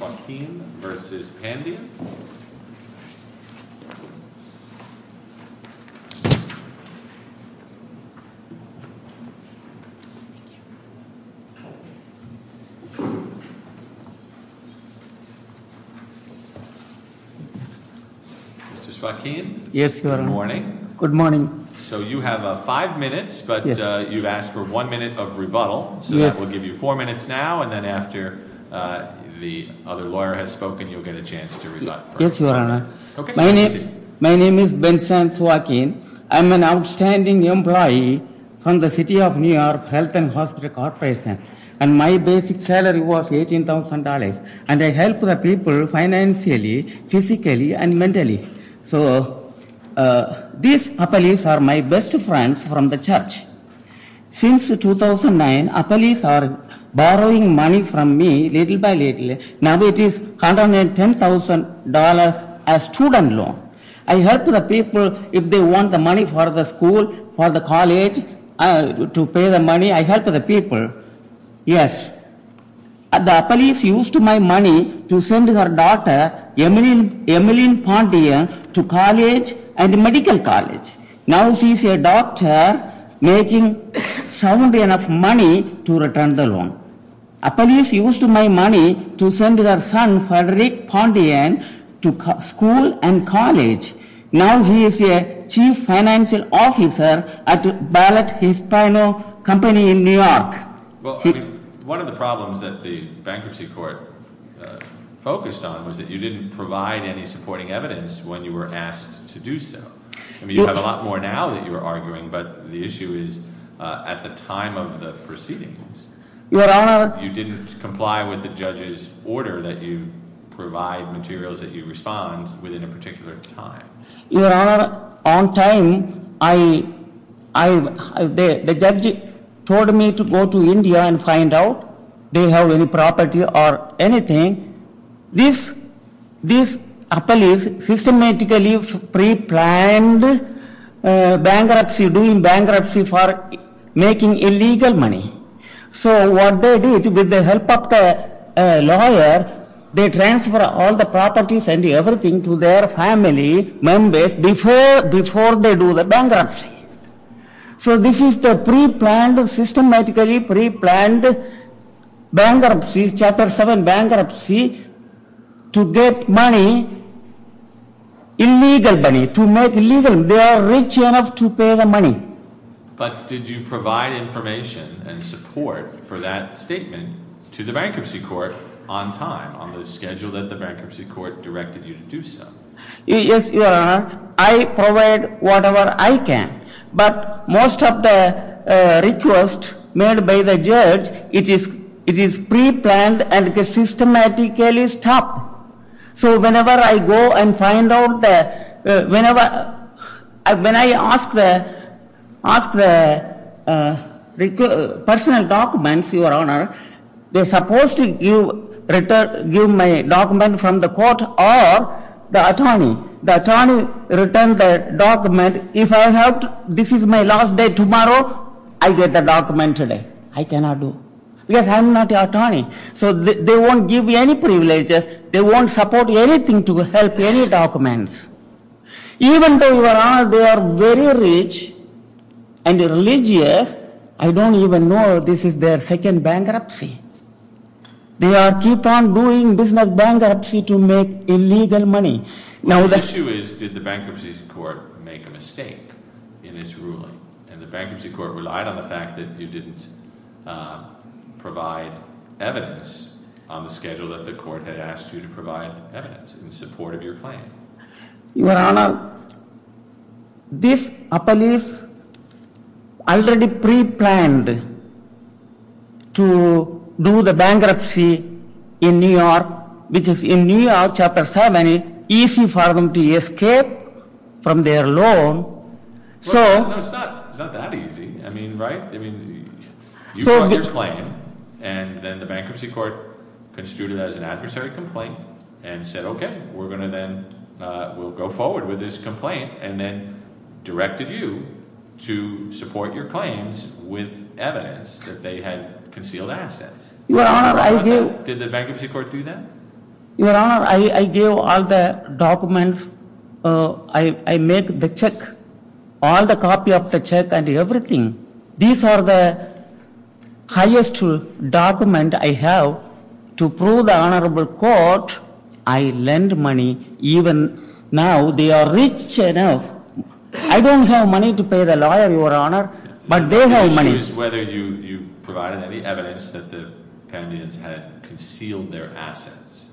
versus Pandya. Mr. Swakeen. Yes, Your Honor. Good morning. Good morning. So you have five minutes, but you've asked for one minute of rebuttal, so that will give you four minutes now, and then after the other lawyer has spoken, you'll get a chance to rebut. Yes, Your Honor. My name is Bensam Swakeen. I'm an outstanding employee from the City of New York Health and Hospital Corporation, and my basic salary was $18,000, and I help the people financially, physically, and mentally. So these appellees are my best friends from the church. Since 2009, appellees are borrowing money from me little by little. Now it is $110,000 as student loan. I help the people if they want the money for the school, for the college, to pay the money, I help the people. Yes, the appellees used my money to send her daughter, Emeline Pandyan, to college and medical college. Now she's a doctor making sound enough money to return the loan. Appellees used my money to send their son, Frederic Pandyan, to school and college. Now he is a chief financial officer at Ballot Hispano Company in New York. One of the problems that the asked to do so. You have a lot more now that you're arguing, but the issue is at the time of the proceedings, you didn't comply with the judge's order that you provide materials that you respond within a particular time. Your Honor, on time, the judge told me to go to India and find out they have any property or anything. These appellees systematically pre-planned bankruptcy, doing bankruptcy for making illegal money. So what they did with the help of a lawyer, they transfer all the properties and everything to their family members before they do the bankruptcy. So this Chapter 7 bankruptcy to get money, illegal money, to make legal, they are rich enough to pay the money. But did you provide information and support for that statement to the bankruptcy court on time, on the schedule that the bankruptcy court directed you to do so? Yes, Your Honor, I provide whatever I pre-planned and systematically stopped. So whenever I go and find out, when I ask the personal documents, Your Honor, they're supposed to give my document from the court or the attorney. The attorney returns the document. If I have to, this is my last day tomorrow, I get the document today. I cannot do. Yes, I'm not an attorney. So they won't give me any privileges. They won't support anything to help any documents. Even though, Your Honor, they are very rich and religious, I don't even know this is their second bankruptcy. They keep on doing business bankruptcy to make illegal money. Now the issue is, did the bankruptcy court make a mistake in its ruling? And the bankruptcy court relied on the fact that you didn't provide evidence on the schedule that the court had asked you to provide evidence in support of your claim. Your Honor, this appellee's already pre-planned to do the bankruptcy in New York, because in New York, Chapter 7, it's easy for them to escape from their loan. No, it's not that easy. I mean, right? I mean, you brought your claim, and then the bankruptcy court construed it as an adversary complaint and said, okay, we're going to then, we'll go forward with this complaint, and then directed you to support your claims with evidence that they had concealed assets. Did the bankruptcy court do that? Your Honor, I gave all the check and everything. These are the highest document I have to prove the honorable court. I lend money. Even now, they are rich enough. I don't have money to pay the lawyer, Your Honor, but they have money. The issue is whether you provided any evidence that the Pantheons had concealed their assets.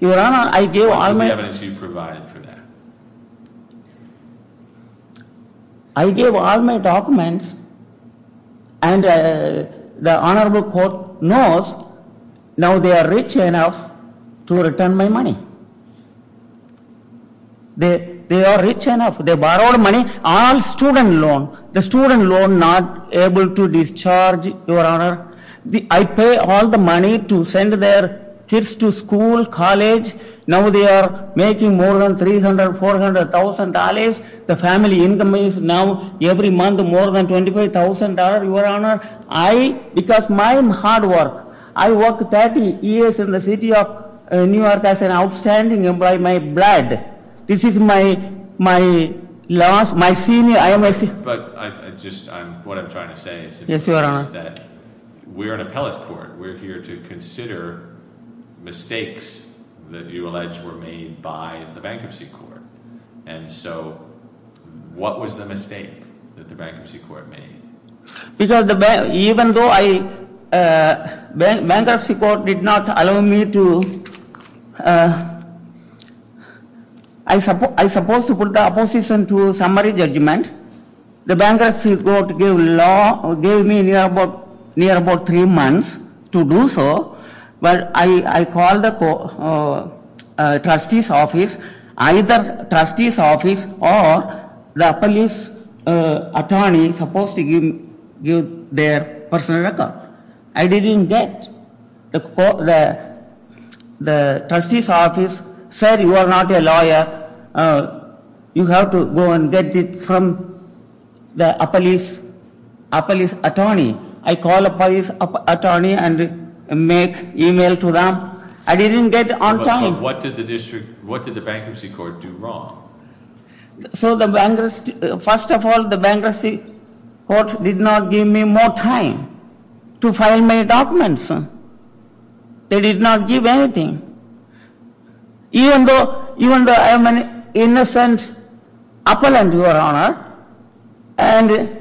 Your Honor, I gave all my... What was the evidence you provided for that? I gave all my documents, and the honorable court knows now they are rich enough to return my money. They are rich enough. They borrowed money, all student loan. The student loan not able to discharge, Your Honor. I pay all the money to send their kids to school, college. Now they are making more than $300,000, $400,000. The family income is now every month more than $25,000, Your Honor. I, because my hard work. I worked 30 years in the city of New York as an outstanding employee. My blood. This is my last, my senior, I am a senior... But I just, what I'm trying to say is that we're an appellate court. We're here to consider mistakes that you allege were made by the bankruptcy court. And so, what was the mistake that the bankruptcy court made? Because even though I... Bankruptcy court did not allow me to... I suppose to put the opposition to summary judgment. The bankruptcy court gave me near about three months to do so, but I either trustee's office or the appellate attorney supposed to give their personal record. I didn't get. The trustee's office said you are not a lawyer. You have to go and get it from the appellate attorney. I call the appellate attorney and make email to them. I didn't get on time. But what did the district, what did the bankruptcy court do wrong? So the bankruptcy, first of all, the bankruptcy court did not give me more time to file my documents. They did not give anything. Even though I am an innocent appellant, your honor, and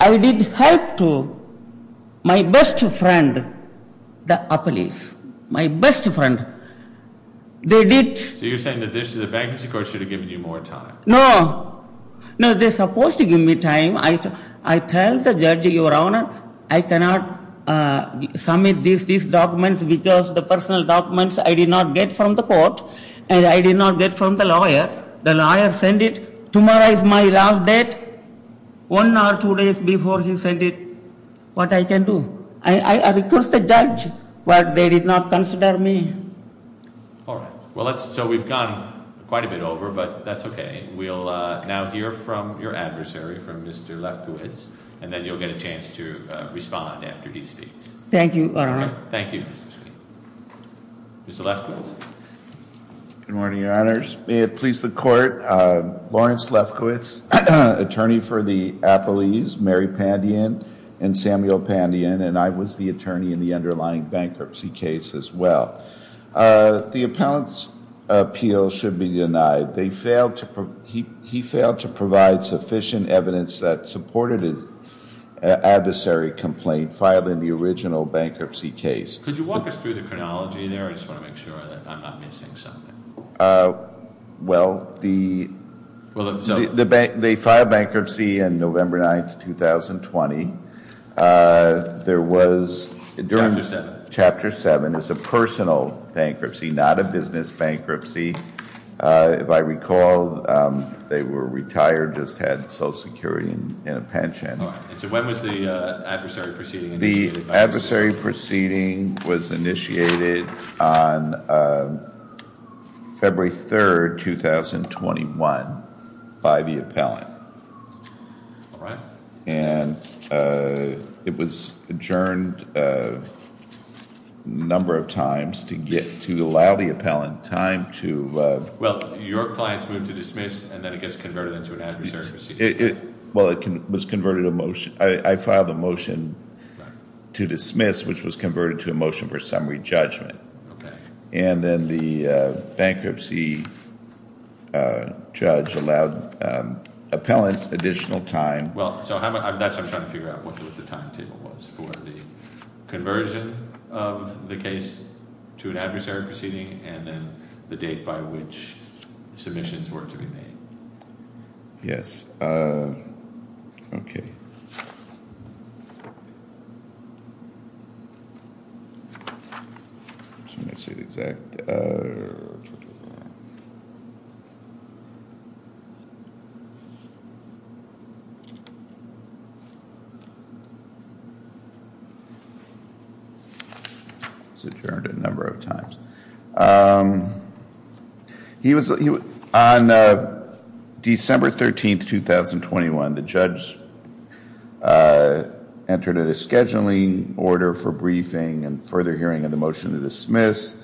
I did help to my best friend, the appellees, my best friend, they did... So you're saying that the bankruptcy court should have given you more time. No. No, they're supposed to give me time. I tell the judge, your honor, I cannot submit these documents because the personal documents I did not get from the court, and I did not get from the lawyer. The lawyer sent it. Tomorrow is my last day. One hour, two days before he sent it. What I can do? I request the judge, but they did not consider me. All right. Well, let's, so we've gone quite a bit over, but that's okay. We'll now hear from your adversary, from Mr. Lefkowitz, and then you'll get a chance to respond after he speaks. Thank you, your honor. Thank you, Mr. Chief. Mr. Lefkowitz. Good morning, your honors. May it please the court, Lawrence Lefkowitz, attorney for the appellees, Mary Pandian and Samuel Pandian, and I was the attorney in the underlying bankruptcy case as well. The appellant's appeal should be denied. They failed to, he failed to provide sufficient evidence that supported his adversary complaint filed in the original bankruptcy case. Could you walk us through the chronology there? I just want to make sure that I'm not missing something. Well, the bank, they filed bankruptcy on November 9th, 2020. There was, during Chapter 7, it was a personal bankruptcy, not a business bankruptcy. If I recall, they were retired, just had Social Security and a pension. All right, and so when was the adversary proceeding initiated? It was initiated on February 3rd, 2021 by the appellant. And it was adjourned a number of times to get, to allow the appellant time to... Well, your client's moved to dismiss, and then it gets converted into an adversary proceeding. Well, it was converted to a motion. I filed a motion to dismiss, which was converted to a motion for summary judgment. And then the bankruptcy judge allowed appellant additional time. Well, so that's, I'm trying to figure out what the timetable was for the conversion of the case to an adversary proceeding, and then the date by which submissions were to be made. Yes, okay. I'm just going to say the exact... It was adjourned a number of times. On December 13th, 2021, the judge entered a scheduling order for briefing and further hearing of the motion to dismiss.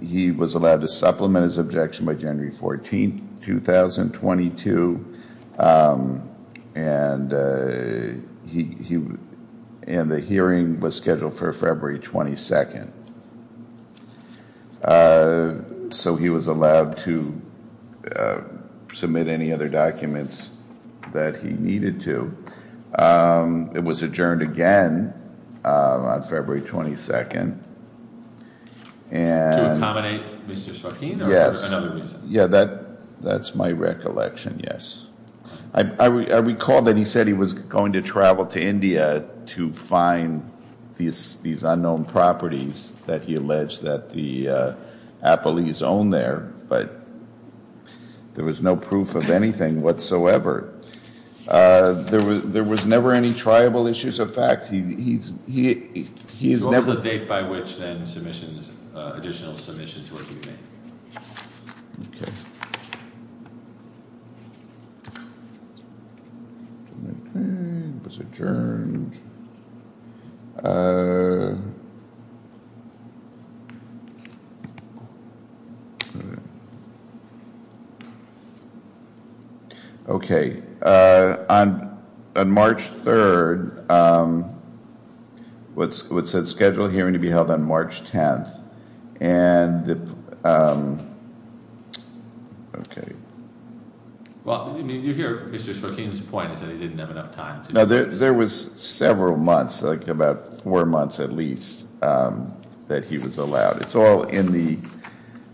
He was allowed to supplement his objection by January 14th, 2022, and the hearing was scheduled for February 22nd. So he was allowed to submit any other documents that he needed to. It was adjourned again on February 22nd. To accommodate Mr. Sarkeen, or for another reason? Yes, that's my recollection, yes. I recall that he said he was going to travel to India to find these unknown properties that he alleged that the appellees owned there, but there was no proof of anything whatsoever. There was never any triable issues of fact. What was the date by which then submissions, additional submissions were to be made? Okay. It was adjourned. Okay, on March 3rd, it said scheduled hearing to be held on March 10th. Okay. Well, you hear Mr. Sarkeen's point that he didn't have enough time. No, there was several months, like about four months at least, that he was allowed. It's all in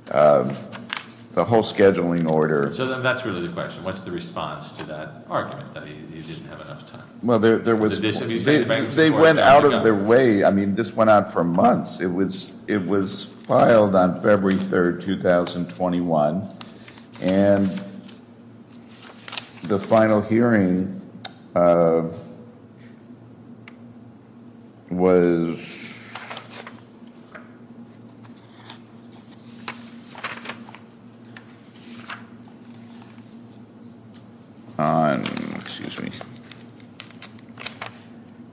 the whole scheduling order. So that's really the question. What's the response to that argument, that he didn't have enough time? They went out of their way. I mean, this went out for months. It was filed on February 3rd, 2021. And the final hearing was on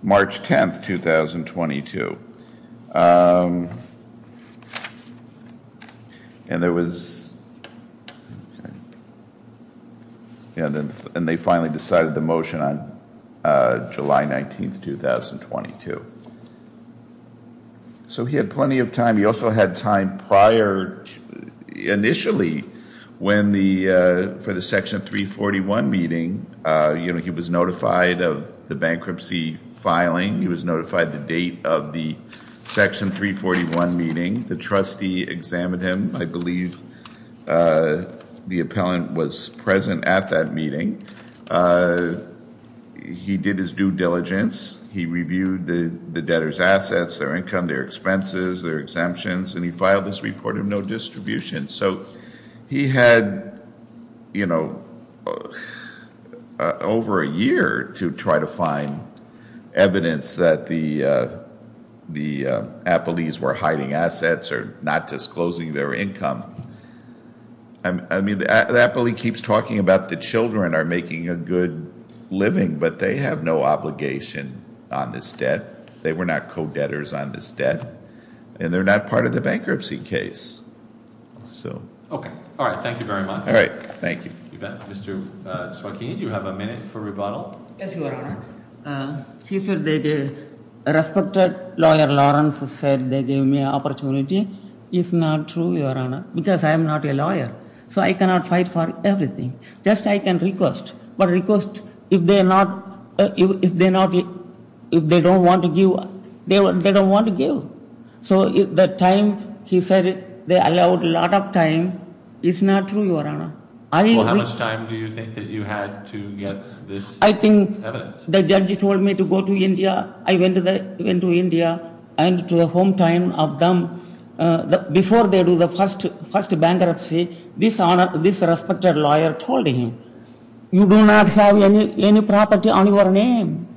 March 10th, 2022. And there was, and they finally decided the motion on July 19th, 2022. So he had plenty of time. He also had time prior. Initially, for the Section 341 meeting, he was notified of the bankruptcy filing. He was notified the date of the Section 341 meeting. The trustee examined him. I believe the appellant was present at that meeting. He did his due diligence. He reviewed the debtor's assets, their income, their expenses, their exemptions. And he filed this report of no distribution. So he had over a year to try to find evidence that the appellees were hiding assets or not disclosing their income. I mean, the appellee keeps talking about the children are making a good living, but they have no obligation on this debt. They were not co-debtors on this debt. And they're not part of the bankruptcy case. Okay. All right. Thank you very much. All right. Thank you. Mr. Swakini, you have a minute for rebuttal. Yes, Your Honor. He said that a respected lawyer, Lawrence, said they gave me an opportunity. It's not true, Your Honor, because I am not a lawyer. So I cannot fight for everything. Just I can request. But request, if they don't want to give, they don't want to give. So the time, he said, they allowed a lot of time. It's not true, Your Honor. I think the judge told me to go to India. I went to India and to the hometown of them. Before they do the first bankruptcy, this respected lawyer told him, you do not have any property on your name.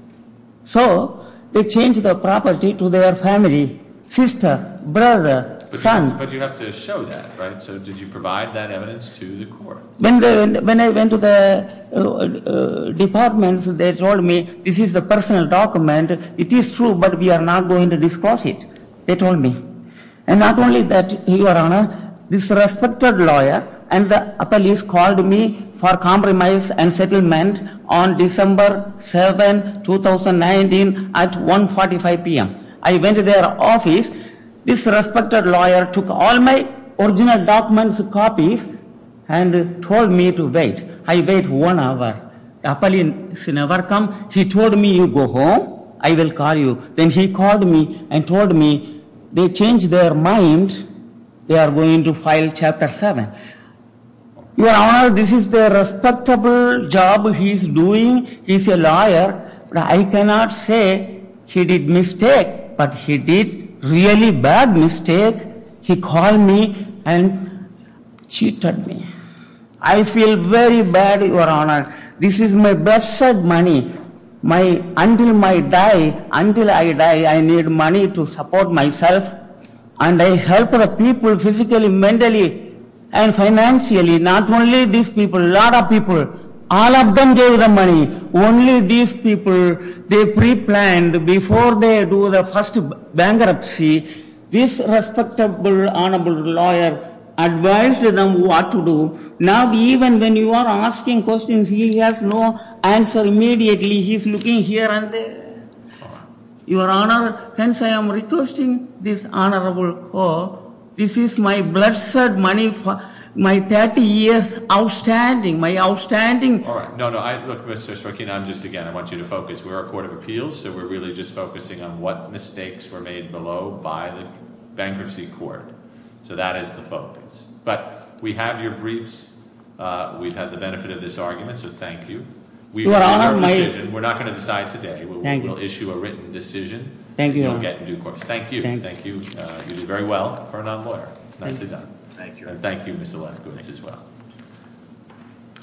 So they changed the property to their family, sister, brother, son. But you have to show that, right? So did you provide that evidence to the court? When I went to the department, they told me this is a personal document. It is true, but we are not going to disclose it. They told me. And not only that, Your Honor, this respected lawyer and the police called me for compromise and settlement on December 7, 2019 at 1.45 p.m. I went to their office. This respected lawyer took all my original documents, copies, and told me to wait. I wait one hour. The police never come. He told me, you go home. I will call you. Then he called me and told me, they changed their mind. They are going to file Chapter 7. Your Honor, this is the respectable job he is doing. He is a lawyer. I cannot say he did a mistake. But he did a really bad mistake. He called me and cheated me. I feel very bad, Your Honor. This is my best money. Until I die, I need money to support myself. And I help people physically, mentally, and financially. Not only these people. All of them gave the money. Only these people gave the money. These people, they pre-planned. Before they do the first bankruptcy, this respectable honorable lawyer advised them what to do. Now, even when you are asking questions, he has no answer immediately. He is looking here and there. Your Honor, hence, I am requesting this honorable court. This is my blood, sweat, and money for my 30 years outstanding. My outstanding. All right. No, no. Look, Mr. Sharkey, I am just, again, I want you to vote. We are a court of appeals, so we are really just focusing on what mistakes were made below by the bankruptcy court. So that is the focus. But we have your briefs. We have had the benefit of this argument, so thank you. We are not going to decide today. We will issue a written decision. Thank you, Your Honor. Thank you. You did very well for a non-lawyer. Nicely done. Thank you, Mr. Lefkowitz, as well.